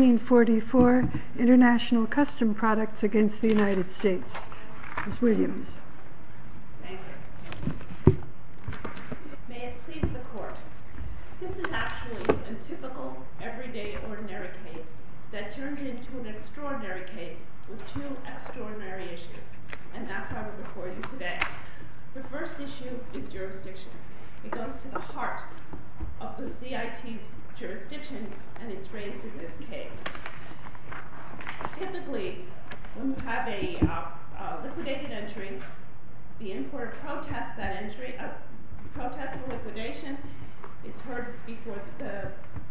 Ms. Williams. Thank you. May it please the court. This is actually a typical, everyday ordinary case that turned into an extraordinary case with two extraordinary issues. And that's why we're recording today. The first issue is jurisdiction. It goes to the heart of the CIT's jurisdiction and it's raised in this case. Typically, when you have a liquidated entry, the importer protests the liquidation. It's heard before, the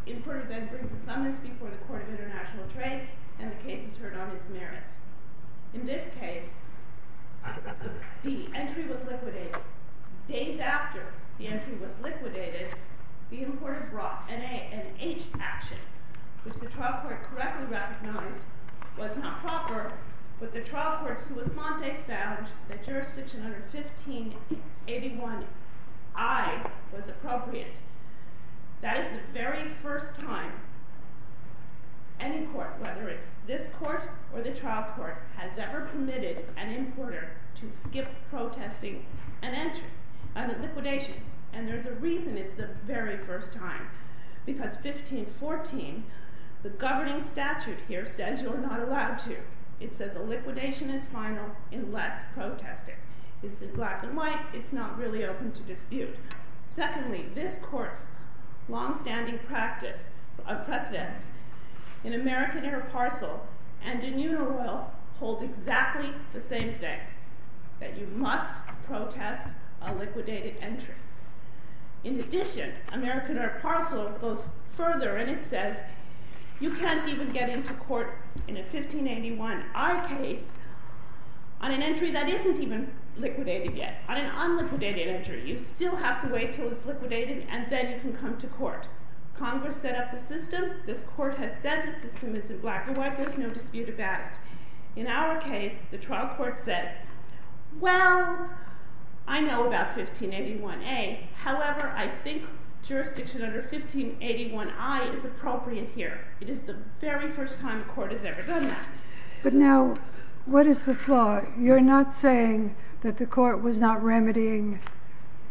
importer then brings a summons before the court of international trade and the case is heard on its merits. In this case, the entry was liquidated. Days after the entry was liquidated, the importer brought an H action, which the trial court correctly recognized was not proper. But the trial court found that jurisdiction under 1581I was appropriate. That is the very first time any court, whether it's this court or the trial court, has ever permitted an importer to skip protesting an entry, a liquidation. And there's a reason it's the very first time. Because 1514, the governing statute here says you're not allowed to. It says a liquidation is final unless protested. It's in black and white. It's not really open to dispute. Secondly, this court's longstanding practice of precedence in American Air Parcel and in Unaroyal hold exactly the same thing, that you must protest a liquidated entry. In addition, American Air Parcel goes further and it says you can't even get into court in a 1581I case on an entry that isn't even liquidated yet. On an unliquidated entry, you still have to wait until it's liquidated and then you can come to court. Congress set up the system. This court has said the system is in black and white. There's no dispute about it. In our case, the trial court said, well, I know about 1581A. However, I think jurisdiction under 1581I is appropriate here. It is the very first time a court has ever done that. But now, what is the flaw? You're not saying that the court was not remedying,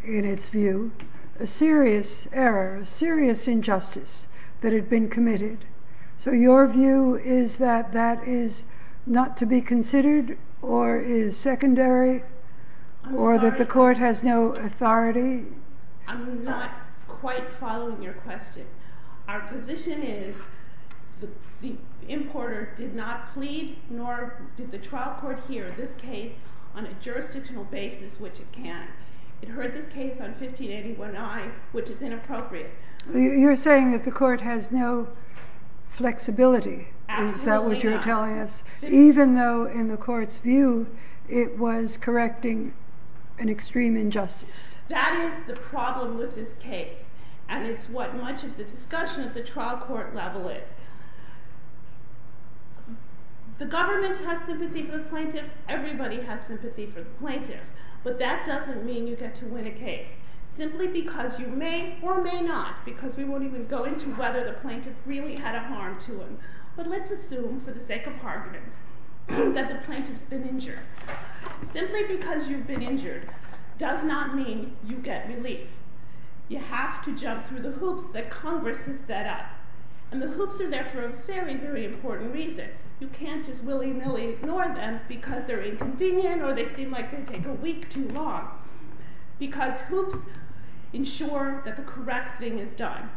in its view, a serious error, a serious injustice that had been committed. So your view is that that is not to be considered or is secondary or that the court has no authority? I'm not quite following your question. Our position is the importer did not plead nor did the trial court hear this case on a jurisdictional basis, which it can. It heard this case on 1581I, which is inappropriate. You're saying that the court has no flexibility. Is that what you're telling us? Even though, in the court's view, it was correcting an extreme injustice. That is the problem with this case. And it's what much of the discussion at the trial court level is. The government has sympathy for the plaintiff. Everybody has sympathy for the plaintiff. But that doesn't mean you get to win a case. Simply because you may or may not, because we won't even go into whether the plaintiff really had a harm to him. But let's assume, for the sake of argument, that the plaintiff's been injured. Simply because you've been injured does not mean you get relief. You have to jump through the hoops that Congress has set up. And the hoops are there for a very, very important reason. You can't just willy-nilly ignore them because they're inconvenient or they seem like they take a week too long. Because hoops ensure that the correct thing is done.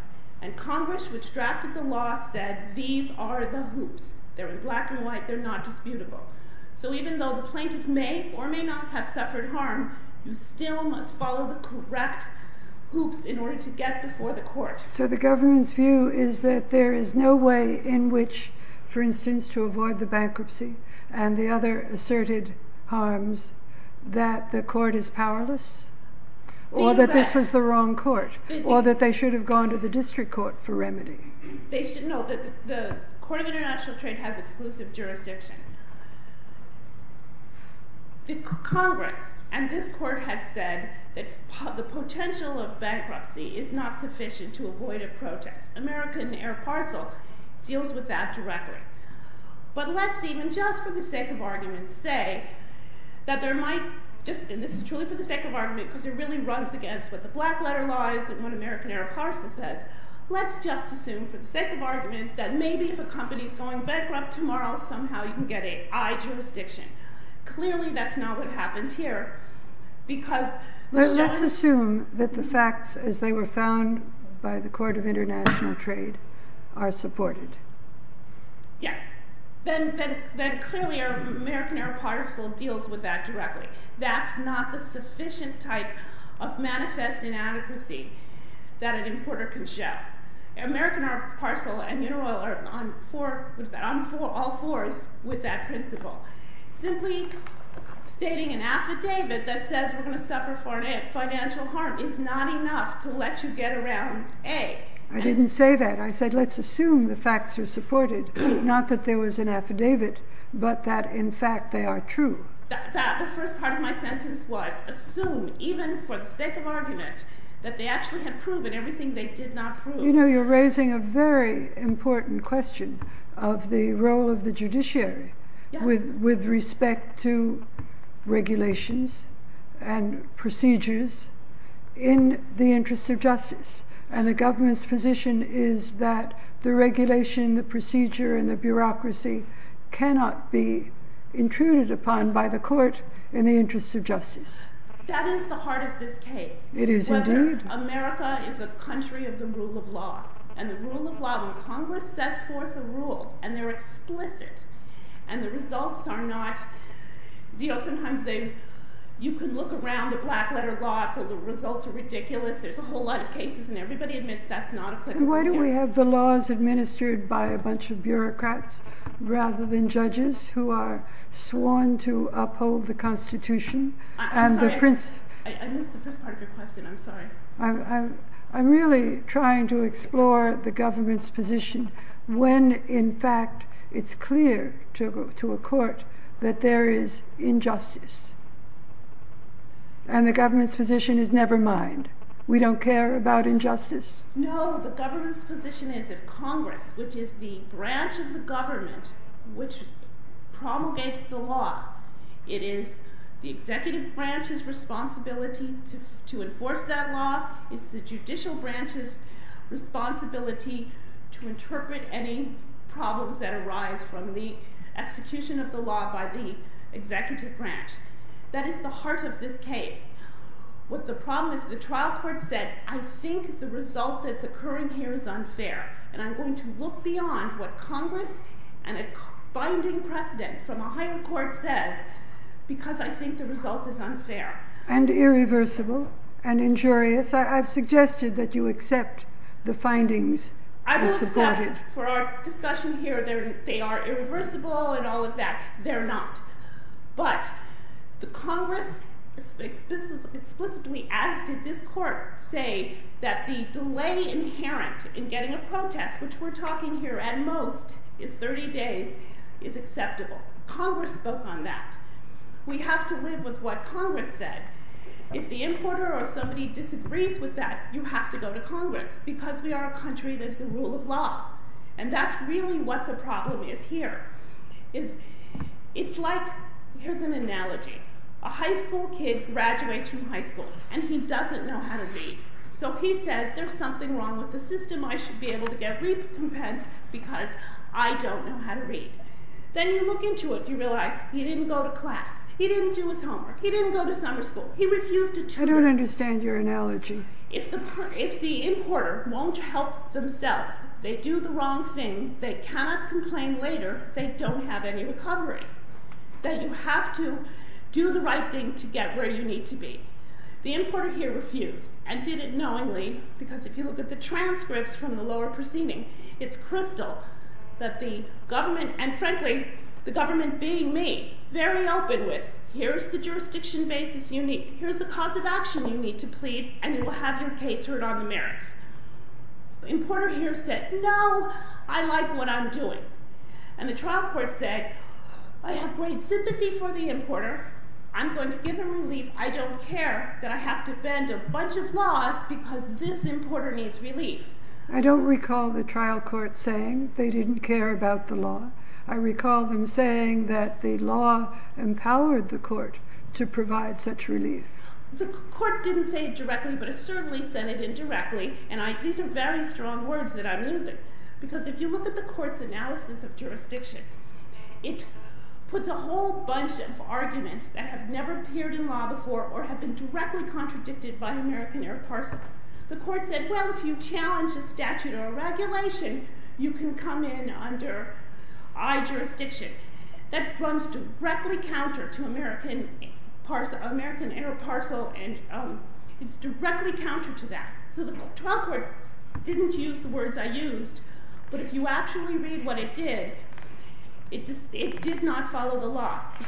And Congress, which drafted the law, said these are the hoops. They're in black and white. They're not disputable. So even though the plaintiff may or may not have suffered harm, you still must follow the correct hoops in order to get before the court. So the government's view is that there is no way in which, for instance, to avoid the bankruptcy and the other asserted harms, that the court is powerless? Or that this was the wrong court? Or that they should have gone to the district court for remedy? No, the Court of International Trade has exclusive jurisdiction. Congress and this court has said that the potential of bankruptcy is not sufficient to avoid a protest. American Air Parcel deals with that directly. But let's even just for the sake of argument say that there might just, and this is truly for the sake of argument because it really runs against what the black letter laws and what American Air Parcel says, let's just assume for the sake of argument that maybe if a company is going bankrupt tomorrow, somehow you can get AI jurisdiction. Clearly that's not what happened here. Let's assume that the facts as they were found by the Court of International Trade are supported. Yes. Then clearly American Air Parcel deals with that directly. That's not the sufficient type of manifest inadequacy that an importer can show. American Air Parcel and Interoil are on all fours with that principle. Simply stating an affidavit that says we're going to suffer financial harm is not enough to let you get around A. I didn't say that. I said let's assume the facts are supported, not that there was an affidavit, but that in fact they are true. The first part of my sentence was assume, even for the sake of argument, that they actually had proven everything they did not prove. You know, you're raising a very important question of the role of the judiciary with respect to regulations and procedures in the interest of justice and the government's position is that the regulation, the procedure and the bureaucracy cannot be intruded upon by the court in the interest of justice. That is the heart of this case, whether America is a country of the rule of law. And the rule of law, when Congress sets forth a rule and they're explicit and the results are not, you know, sometimes you can look around the black letter law and the results are ridiculous. There's a whole lot of cases and everybody admits that's not a clear rule of law. Why do we have the laws administered by a bunch of bureaucrats rather than judges who are sworn to uphold the Constitution? I'm sorry, I missed the first part of your question. I'm sorry. I'm really trying to explore the government's position when in fact it's clear to a court that there is injustice. And the government's position is never mind. We don't care about injustice. No, the government's position is if Congress, which is the branch of the government, which promulgates the law, it is the executive branch's responsibility to enforce that law. It's the judicial branch's responsibility to interpret any problems that arise from the execution of the law by the executive branch. That is the heart of this case. What the problem is, the trial court said, I think the result that's occurring here is unfair. And I'm going to look beyond what Congress and a binding precedent from a higher court says because I think the result is unfair. And irreversible and injurious. I've suggested that you accept the findings. I will accept for our discussion here they are irreversible and all of that. They're not. But the Congress explicitly, as did this court, say that the delay inherent in getting a protest, which we're talking here at most is 30 days, is acceptable. Congress spoke on that. We have to live with what Congress said. If the importer or somebody disagrees with that, you have to go to Congress because we are a country that's a rule of law. And that's really what the problem is here. It's like, here's an analogy. A high school kid graduates from high school and he doesn't know how to read. So he says there's something wrong with the system. I should be able to get recompense because I don't know how to read. Then you look into it and you realize he didn't go to class. He didn't do his homework. He didn't go to summer school. He refused to tutor. I don't understand your analogy. If the importer won't help themselves, they do the wrong thing, they cannot complain later, they don't have any recovery. That you have to do the right thing to get where you need to be. The importer here refused and did it knowingly because if you look at the transcripts from the lower proceeding, it's crystal that the government, and frankly, the government being me, very open with here's the jurisdiction basis you need, here's the cause of action you need to plead and you will have your case heard on the merits. The importer here said, no, I like what I'm doing. And the trial court said, I have great sympathy for the importer. I'm going to give him relief. I don't care that I have to bend a bunch of laws because this importer needs relief. I don't recall the trial court saying they didn't care about the law. I recall them saying that the law empowered the court to provide such relief. The court didn't say it directly, but it certainly said it indirectly, and these are very strong words that I'm using. Because if you look at the court's analysis of jurisdiction, it puts a whole bunch of arguments that have never appeared in law before or have been directly contradicted by American Air Parsons. The court said, well, if you challenge a statute or a regulation, you can come in under I jurisdiction. That runs directly counter to American Air Parcel and it's directly counter to that. So the trial court didn't use the words I used, but if you actually read what it did, it did not follow the law. It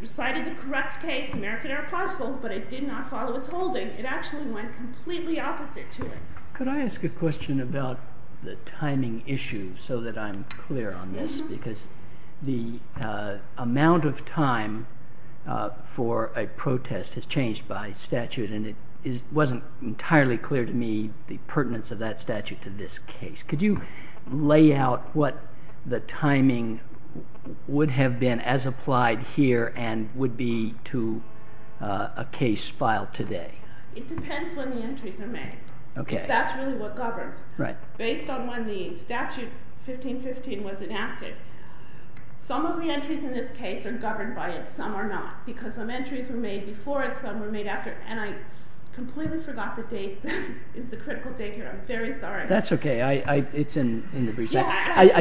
recited the correct case, American Air Parcel, but it did not follow its holding. It actually went completely opposite to it. Could I ask a question about the timing issue so that I'm clear on this? Because the amount of time for a protest has changed by statute and it wasn't entirely clear to me the pertinence of that statute to this case. Could you lay out what the timing would have been as applied here and would be to a case filed today? It depends when the entries are made, if that's really what governs. Based on when the statute 1515 was enacted, some of the entries in this case are governed by it, some are not. Because some entries were made before it, some were made after it, and I completely forgot the date is the critical date here. I'm very sorry. That's okay. I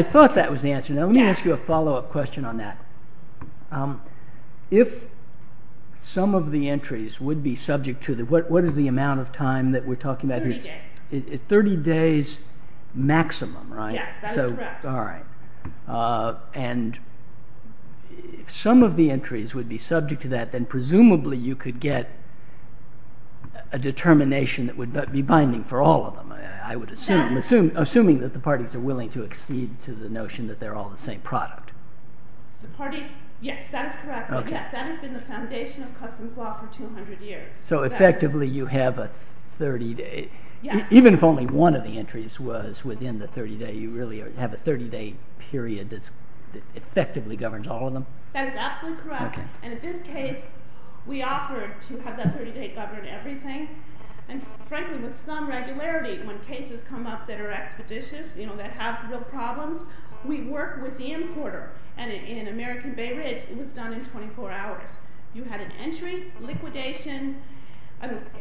thought that was the answer. Let me ask you a follow up question on that. If some of the entries would be subject to, what is the amount of time that we're talking about here? 30 days. 30 days maximum, right? Yes, that is correct. All right. And if some of the entries would be subject to that, then presumably you could get a determination that would be binding for all of them, I would assume, assuming that the parties are willing to accede to the notion that they're all the same product. Yes, that is correct. That has been the foundation of customs law for 200 years. So effectively you have a 30-day, even if only one of the entries was within the 30-day, you really have a 30-day period that effectively governs all of them? That is absolutely correct. And in this case, we offered to have that 30-day govern everything. And frankly, with some regularity, when cases come up that are expeditious, you know, that have real problems, we work with the importer. And in American Bay Ridge, it was done in 24 hours. You had an entry, liquidation,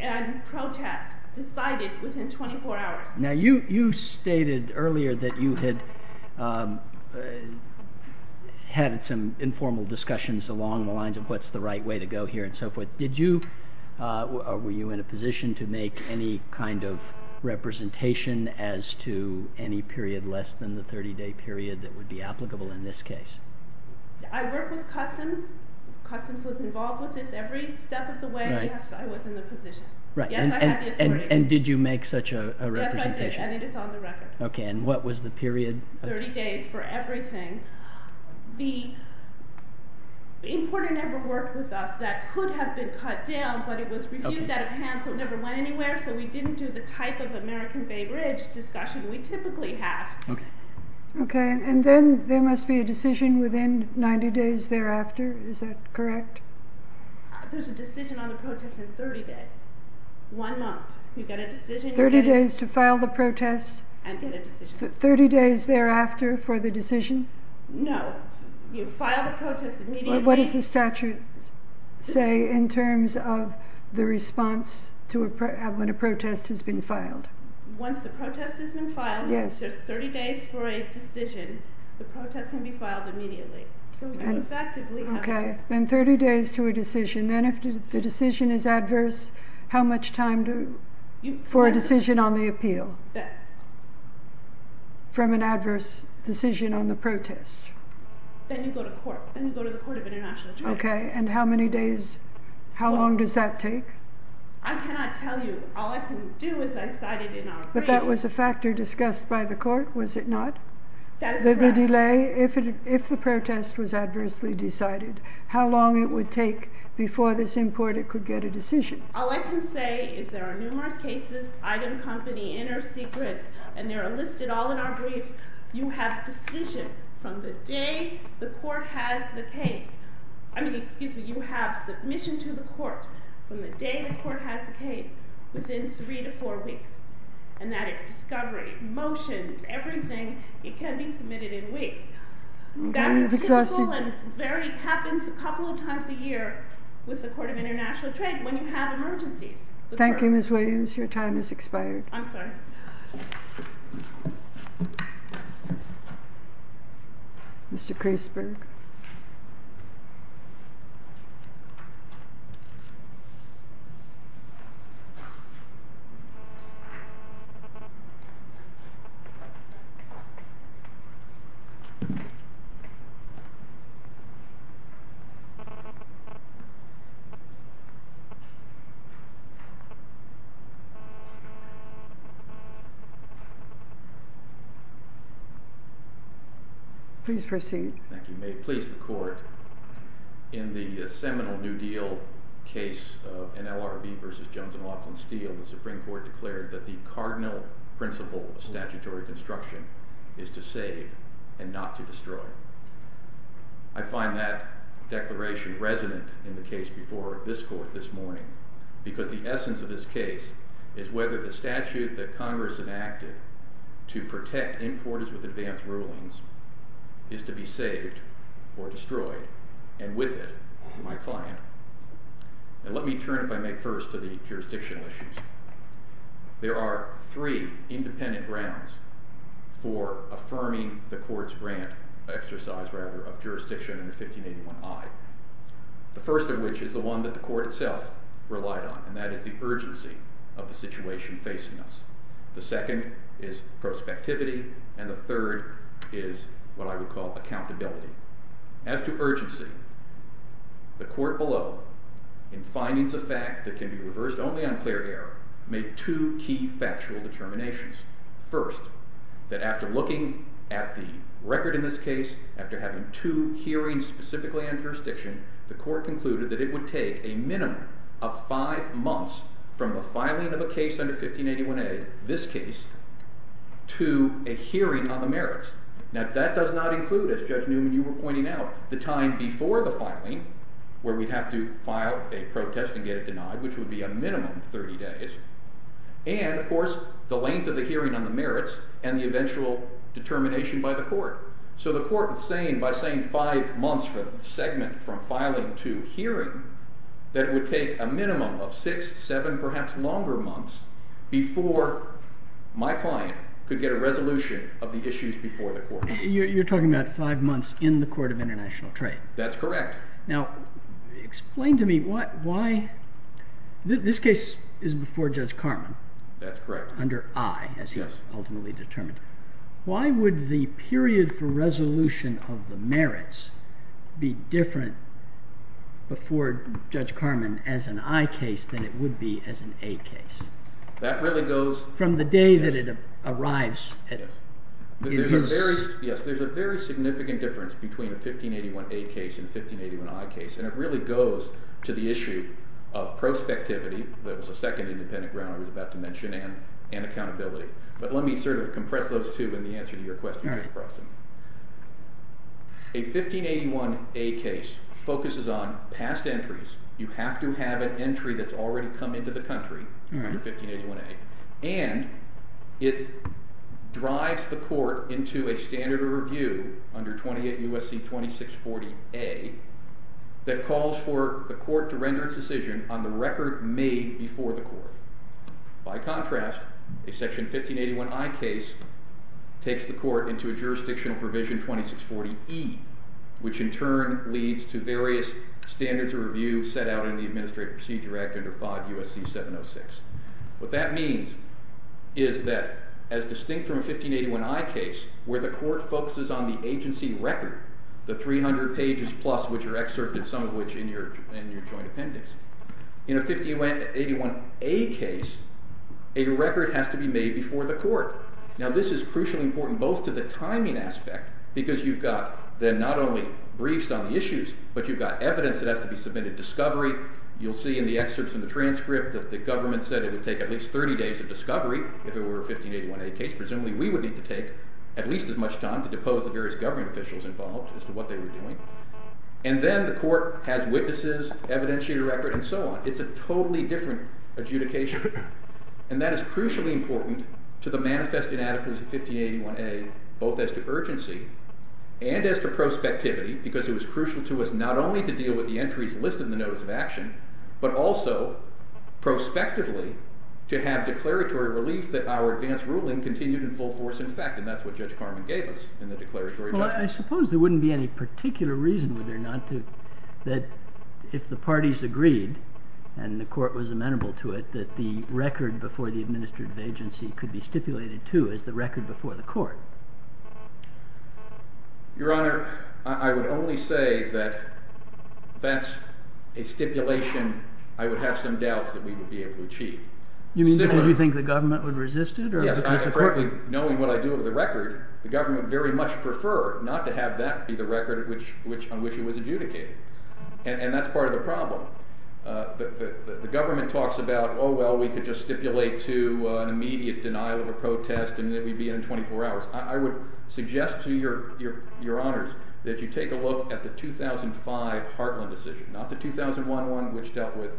and protest decided within 24 hours. Now you stated earlier that you had had some informal discussions along the lines of what's the right way to go here and so forth. Were you in a position to make any kind of representation as to any period less than the 30-day period that would be applicable in this case? I work with customs. Customs was involved with this every step of the way. Yes, I was in the position. Yes, I had the authority. And did you make such a representation? Yes, I did. I think it's on the record. Okay, and what was the period? 30 days for everything. The importer never worked with us. That could have been cut down, but it was refused out of hand, so it never went anywhere, so we didn't do the type of American Bay Ridge discussion we typically have. Okay, and then there must be a decision within 90 days thereafter, is that correct? There's a decision on the protest in 30 days, one month. You get a decision. 30 days to file the protest? And get a decision. 30 days thereafter for the decision? No, you file the protest immediately. What does the statute say in terms of the response to when a protest has been filed? Once the protest has been filed, there's 30 days for a decision. The protest can be filed immediately. So you effectively have a decision. Okay, then 30 days to a decision. Then if the decision is adverse, how much time for a decision on the appeal? From an adverse decision on the protest? Then you go to court. Then you go to the Court of International Justice. Okay, and how many days, how long does that take? I cannot tell you. All I can do is I cited in our briefs. But that was a factor discussed by the court, was it not? That is correct. The delay, if the protest was adversely decided, how long it would take before this importer could get a decision? All I can say is there are numerous cases, item company, inner secrets, and they're listed all in our brief. You have decision from the day the court has the case. I mean, excuse me, you have submission to the court from the day the court has the case within three to four weeks. And that is discovery, motions, everything. It can be submitted in weeks. That's typical and very happens a couple of times a year with the Court of International Trade when you have emergencies. Thank you, Ms. Williams. Your time has expired. I'm sorry. Mr. Kreisberg. Please proceed. Thank you. May it please the court, in the seminal New Deal case of NLRB versus Jones and Laughlin Steel, the Supreme Court declared that the cardinal principle of statutory construction is to save and not to destroy. I find that declaration resonant in the case before this court this morning because the essence of this case is whether the statute that Congress enacted to protect importers with advanced rulings is to be saved or destroyed, and with it, my client. And let me turn, if I may, first to the jurisdictional issues. There are three independent grounds for affirming the court's grant exercise, rather, of jurisdiction under 1581I, the first of which is the one that the court itself relied on, and that is the urgency of the situation facing us. The second is prospectivity, and the third is what I would call accountability. As to urgency, the court below, in findings of fact that can be reversed only on clear error, made two key factual determinations. First, that after looking at the record in this case, after having two hearings specifically on jurisdiction, the court concluded that it would take a minimum of five months from the filing of a case under 1581A, this case, to a hearing on the merits. Now, that does not include, as Judge Newman, you were pointing out, the time before the filing where we'd have to file a protest and get it denied, which would be a minimum of 30 days, and, of course, the length of the hearing on the merits and the eventual determination by the court. So the court is saying, by saying five months for the segment from filing to hearing, that it would take a minimum of six, seven, perhaps longer months before my client could get a resolution of the issues before the court. You're talking about five months in the Court of International Trade. That's correct. Now, explain to me why—this case is before Judge Carman. That's correct. Under I, as he ultimately determined. Why would the period for resolution of the merits be different before Judge Carman as an I case than it would be as an A case? That really goes— From the day that it arrives. Yes. There's a very significant difference between a 1581A case and a 1581I case, and it really goes to the issue of prospectivity—that was the second independent ground I was about to mention—and accountability. But let me sort of compress those two in the answer to your question. All right. A 1581A case focuses on past entries. You have to have an entry that's already come into the country under 1581A. And it drives the court into a standard of review under 28 U.S.C. 2640A that calls for the court to render its decision on the record made before the court. By contrast, a section 1581I case takes the court into a jurisdictional provision 2640E, which in turn leads to various standards of review set out in the Administrative Procedure Act under 5 U.S.C. 706. What that means is that, as distinct from a 1581I case where the court focuses on the agency record, the 300 pages plus which are excerpted, some of which in your joint appendix, in a 1581A case, a record has to be made before the court. Now, this is crucially important both to the timing aspect, because you've got then not only briefs on the issues, but you've got evidence that has to be submitted, discovery. You'll see in the excerpts in the transcript that the government said it would take at least 30 days of discovery if it were a 1581A case. Presumably, we would need to take at least as much time to depose the various government officials involved as to what they were doing. And then the court has witnesses, evidentiary record, and so on. It's a totally different adjudication. And that is crucially important to the manifest inadequacies of 1581A, both as to urgency and as to prospectivity, because it was crucial to us not only to deal with the entries listed in the notice of action, but also prospectively to have declaratory relief that our advance ruling continued in full force in fact. And that's what Judge Carman gave us in the declaratory judgment. I suppose there wouldn't be any particular reason, would there not, that if the parties agreed, and the court was amenable to it, that the record before the administrative agency could be stipulated, too, as the record before the court? Your Honor, I would only say that that's a stipulation I would have some doubts that we would be able to achieve. You mean because you think the government would resist it? Yes, and frankly, knowing what I do with the record, the government would very much prefer not to have that be the record on which it was adjudicated. And that's part of the problem. The government talks about, oh, well, we could just stipulate to an immediate denial of a protest and we'd be in in 24 hours. I would suggest to Your Honors that you take a look at the 2005 Hartland decision, not the 2001 one, which dealt with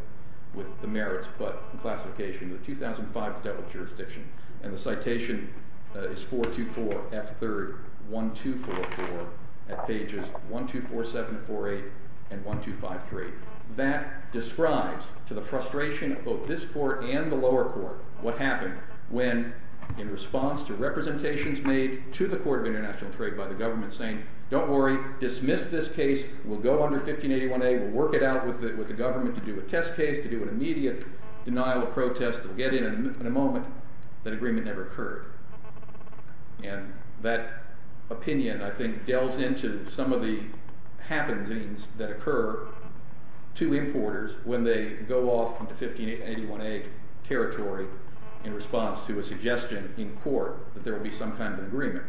the merits, but the classification. The 2005 dealt with jurisdiction. And the citation is 424F3-1244 at pages 124748 and 1253. That describes to the frustration of both this court and the lower court what happened when, in response to representations made to the Court of International Trade by the government saying, don't worry, dismiss this case, we'll go under 1581A, we'll work it out with the government to do a test case, to do an immediate denial of protest, we'll get in in a moment, that agreement never occurred. And that opinion, I think, delves into some of the happenings that occur to importers when they go off into 1581A territory in response to a suggestion in court that there will be some kind of agreement.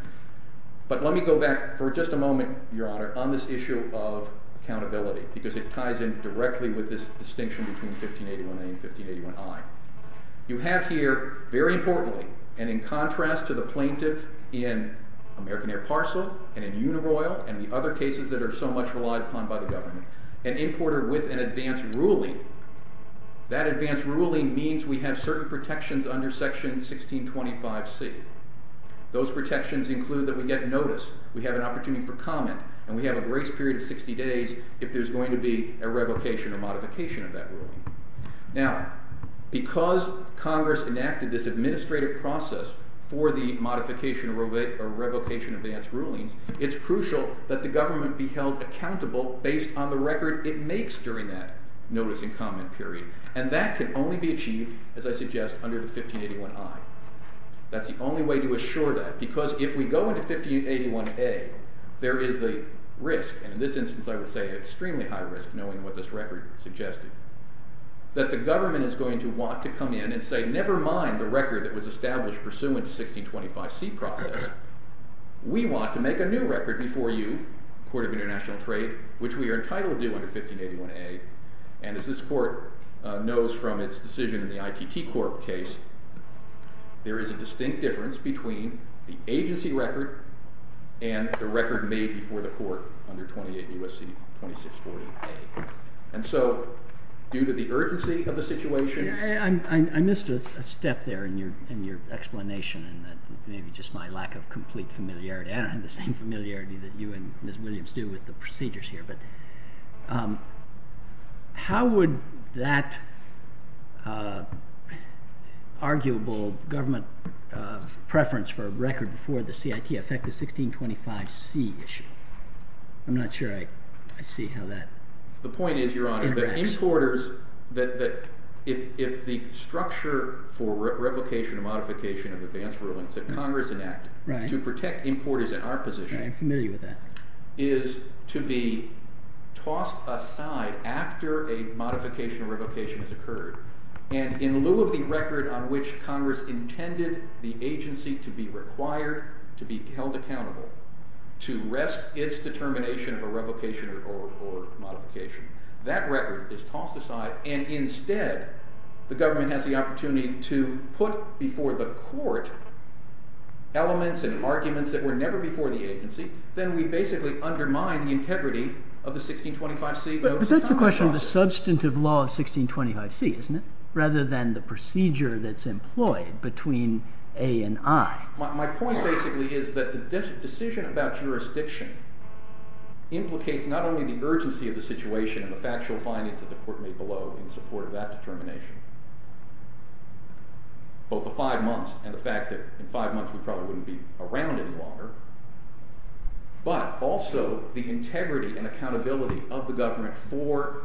But let me go back for just a moment, Your Honor, on this issue of accountability, because it ties in directly with this distinction between 1581A and 1581I. You have here, very importantly, and in contrast to the plaintiff in American Air Parcel and in Unaroyal and the other cases that are so much relied upon by the government, an importer with an advance ruling. That advance ruling means we have certain protections under Section 1625C. Those protections include that we get notice, we have an opportunity for comment, and we have a grace period of 60 days if there's going to be a revocation or modification of that ruling. Now, because Congress enacted this administrative process for the modification or revocation of advance rulings, it's crucial that the government be held accountable based on the record it makes during that notice and comment period. And that can only be achieved, as I suggest, under 1581I. That's the only way to assure that, because if we go into 1581A, there is the risk, and in this instance I would say extremely high risk, knowing what this record suggested, that the government is going to want to come in and say, never mind the record that was established pursuant to 1625C process, we want to make a new record before you, Court of International Trade, which we are entitled to under 1581A. And as this court knows from its decision in the ITT Corp case, there is a distinct difference between the agency record and the record made before the court under 28 U.S.C. 2640A. And so, due to the urgency of the situation— I missed a step there in your explanation, and that may be just my lack of complete familiarity. I don't have the same familiarity that you and Ms. Williams do with the procedures here. But how would that arguable government preference for a record before the CIT affect the 1625C issue? I'm not sure I see how that— The point is, Your Honor, that importers—that if the structure for revocation or modification of advance rulings that Congress enacted to protect importers in our position— I'm familiar with that. is to be tossed aside after a modification or revocation has occurred. And in lieu of the record on which Congress intended the agency to be required, to be held accountable, to rest its determination of a revocation or modification, that record is tossed aside, and instead, the government has the opportunity to put before the court elements and arguments that were never before the agency. Then we basically undermine the integrity of the 1625C. But that's a question of the substantive law of 1625C, isn't it? Rather than the procedure that's employed between A and I. My point basically is that the decision about jurisdiction implicates not only the urgency of the situation and the factual findings that the court made below in support of that determination, both the five months and the fact that in five months we probably wouldn't be around any longer, but also the integrity and accountability of the government for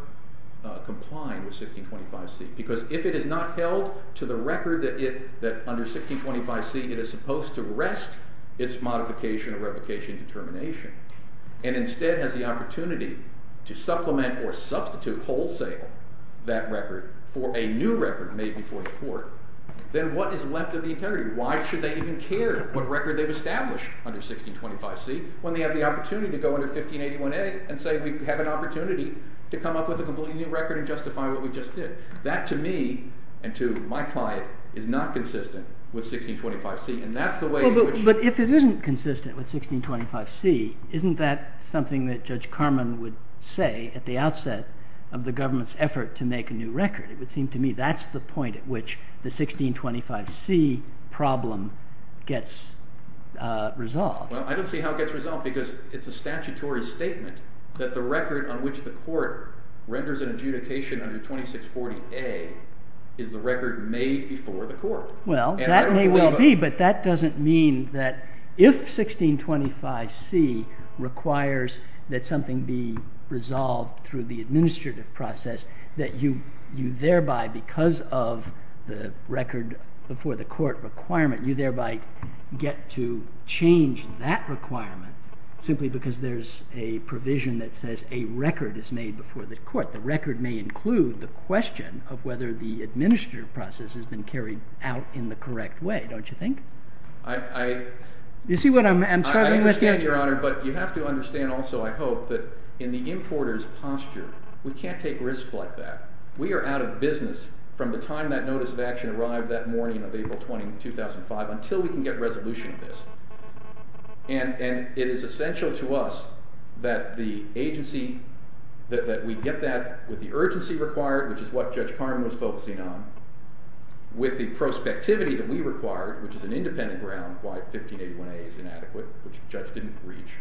complying with 1625C. Because if it is not held to the record that under 1625C it is supposed to rest its modification or revocation determination and instead has the opportunity to supplement or substitute wholesale that record for a new record made before the court, then what is left of the integrity? Why should they even care what record they've established under 1625C when they have the opportunity to go under 1581A and say we have an opportunity to come up with a completely new record and justify what we just did? That to me and to my client is not consistent with 1625C. And that's the way in which— But if it isn't consistent with 1625C, isn't that something that Judge Carman would say at the outset of the government's effort to make a new record? It would seem to me that's the point at which the 1625C problem gets resolved. Well, I don't see how it gets resolved because it's a statutory statement that the record on which the court renders an adjudication under 2640A is the record made before the court. Well, that may well be, but that doesn't mean that if 1625C requires that something be resolved through the administrative process, that you thereby, because of the record before the court requirement, you thereby get to change that requirement simply because there's a provision that says a record is made before the court. The record may include the question of whether the administrative process has been carried out in the correct way, don't you think? I— You see what I'm struggling with here? I understand, Your Honor, but you have to understand also, I hope, that in the importer's posture, we can't take risks like that. We are out of business from the time that notice of action arrived that morning of April 20, 2005, until we can get resolution of this. And it is essential to us that the agency—that we get that with the urgency required, which is what Judge Carman was focusing on, with the prospectivity that we required, which is an independent ground, why 1581A is inadequate, which the judge didn't reach,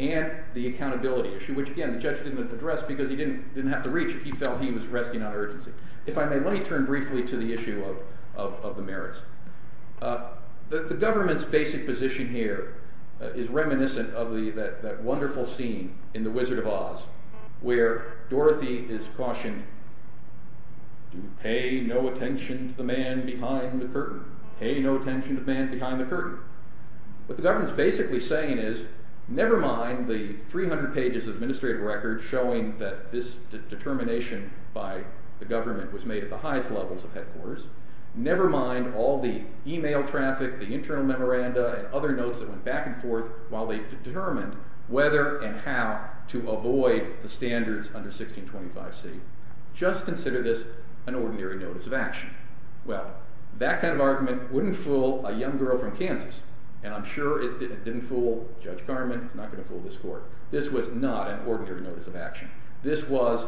and the accountability issue, which, again, the judge didn't address because he didn't have to reach it. He felt he was resting on urgency. If I may, let me turn briefly to the issue of the merits. The government's basic position here is reminiscent of that wonderful scene in The Wizard of Oz, where Dorothy is cautioned, pay no attention to the man behind the curtain. Pay no attention to the man behind the curtain. What the government's basically saying is, never mind the 300 pages of administrative record showing that this determination by the government was made at the highest levels of headquarters. Never mind all the email traffic, the internal memoranda, and other notes that went back and forth while they determined whether and how to avoid the standards under 1625C. Just consider this an ordinary notice of action. Well, that kind of argument wouldn't fool a young girl from Kansas, and I'm sure it didn't fool Judge Carman. It's not going to fool this court. This was not an ordinary notice of action. This was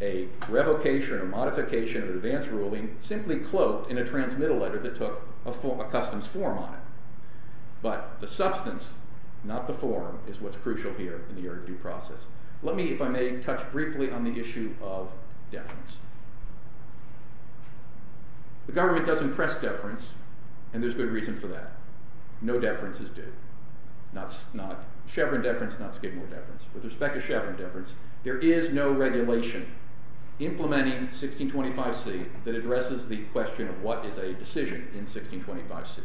a revocation or modification of an advance ruling simply cloaked in a transmittal letter that took a customs form on it. But the substance, not the form, is what's crucial here in the Erred Due Process. Let me, if I may, touch briefly on the issue of deference. The government doesn't press deference, and there's good reason for that. No deference is due. Chevron deference, not Skidmore deference. With respect to Chevron deference, there is no regulation implementing 1625C that addresses the question of what is a decision in 1625C.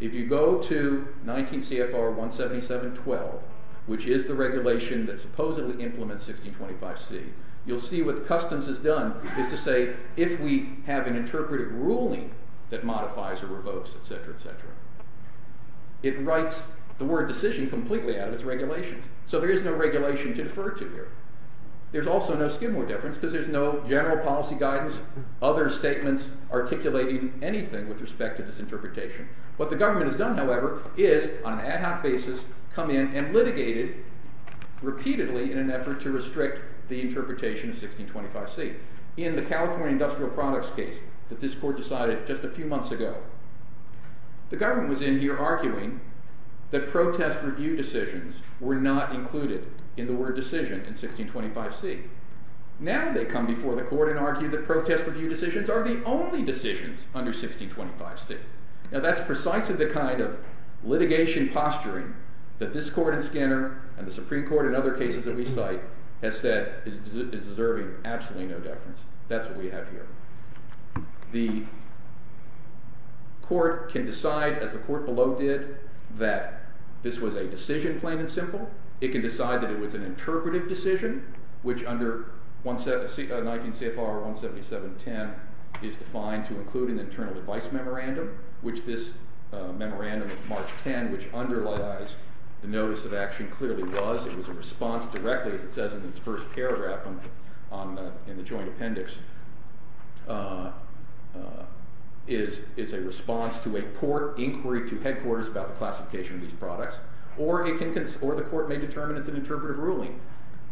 If you go to 19 CFR 177.12, which is the regulation that supposedly implements 1625C, you'll see what customs has done is to say if we have an interpretive ruling that modifies or revokes, etc., etc., it writes the word decision completely out of its regulations. So there is no regulation to defer to here. There's also no Skidmore deference because there's no general policy guidance, other statements articulating anything with respect to this interpretation. What the government has done, however, is on an ad hoc basis come in and litigate it repeatedly in an effort to restrict the interpretation of 1625C. In the California Industrial Products case that this court decided just a few months ago, the government was in here arguing that protest review decisions were not included in the word decision in 1625C. Now they come before the court and argue that protest review decisions are the only decisions under 1625C. Now that's precisely the kind of litigation posturing that this court in Skinner and the Supreme Court in other cases that we cite has said is deserving absolutely no deference. That's what we have here. The court can decide, as the court below did, that this was a decision plain and simple. It can decide that it was an interpretive decision, which under 19 CFR 177.10 is defined to include an internal advice memorandum, which this memorandum of March 10, which underlies the notice of action, clearly was. It was a response directly, as it says in its first paragraph in the joint appendix, is a response to a court inquiry to headquarters about the classification of these products. Or the court may determine it's an interpretive ruling,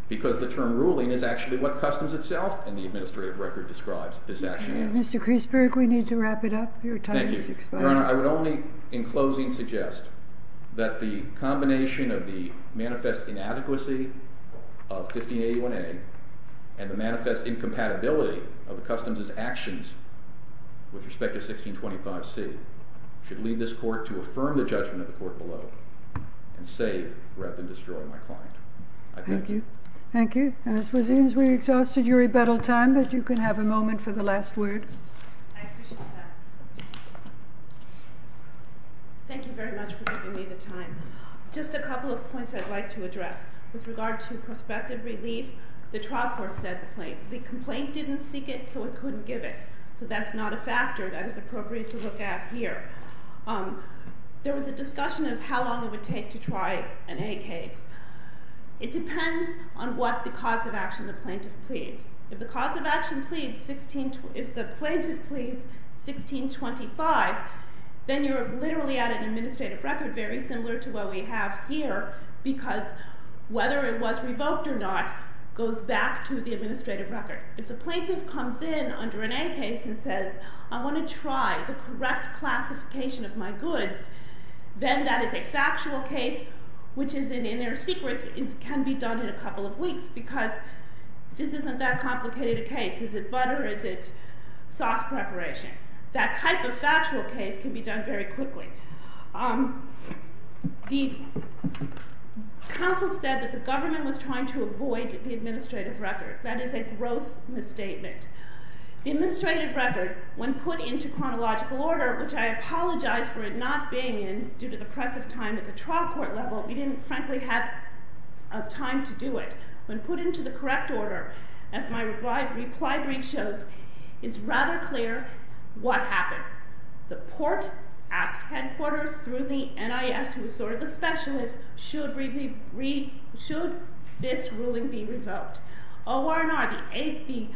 because the term ruling is actually what Customs itself and the administrative record describes. This action is. Mr. Kreisberg, we need to wrap it up. Your time is expiring. Your Honor, I would only in closing suggest that the combination of the manifest inadequacy of 15A1A and the manifest incompatibility of the Customs' actions with respect to 1625C should lead this court to affirm the judgment of the court below and say, rather than destroy my client. I thank you. Thank you. And it seems we've exhausted your rebuttal time, but you can have a moment for the last word. I appreciate that. Thank you very much for giving me the time. Just a couple of points I'd like to address. With regard to prospective relief, the trial court said the complaint. The complaint didn't seek it, so it couldn't give it. So that's not a factor that is appropriate to look at here. There was a discussion of how long it would take to try an A case. It depends on what the cause of action the plaintiff pleads. If the plaintiff pleads 1625, then you're literally at an administrative record very similar to what we have here, because whether it was revoked or not goes back to the administrative record. If the plaintiff comes in under an A case and says, I want to try the correct classification of my goods, then that is a factual case, which is an inner secret, can be done in a couple of weeks, because this isn't that complicated a case. Is it butter? Is it sauce preparation? That type of factual case can be done very quickly. The counsel said that the government was trying to avoid the administrative record. That is a gross misstatement. The administrative record, when put into chronological order, which I apologize for it not being in due to the press of time at the trial court level, we didn't frankly have time to do it. When put into the correct order, as my reply brief shows, it's rather clear what happened. The court asked headquarters through the NIS, who was sort of the specialist, should this ruling be revoked. OR&R, the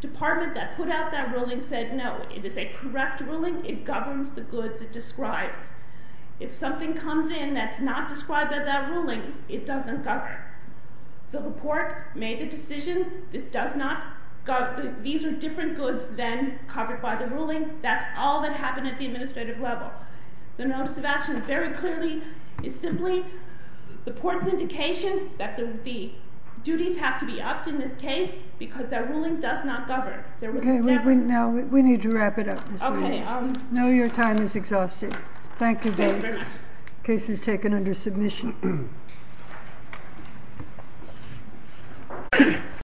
department that put out that ruling, said no, it is a correct ruling. It governs the goods it describes. If something comes in that's not described by that ruling, it doesn't govern. So the court made the decision this does not govern. These are different goods than covered by the ruling. That's all that happened at the administrative level. The notice of action very clearly is simply the court's indication that the duties have to be upped in this case because that ruling does not govern. Now we need to wrap it up. I know your time is exhausted. Thank you very much. The case is taken under submission.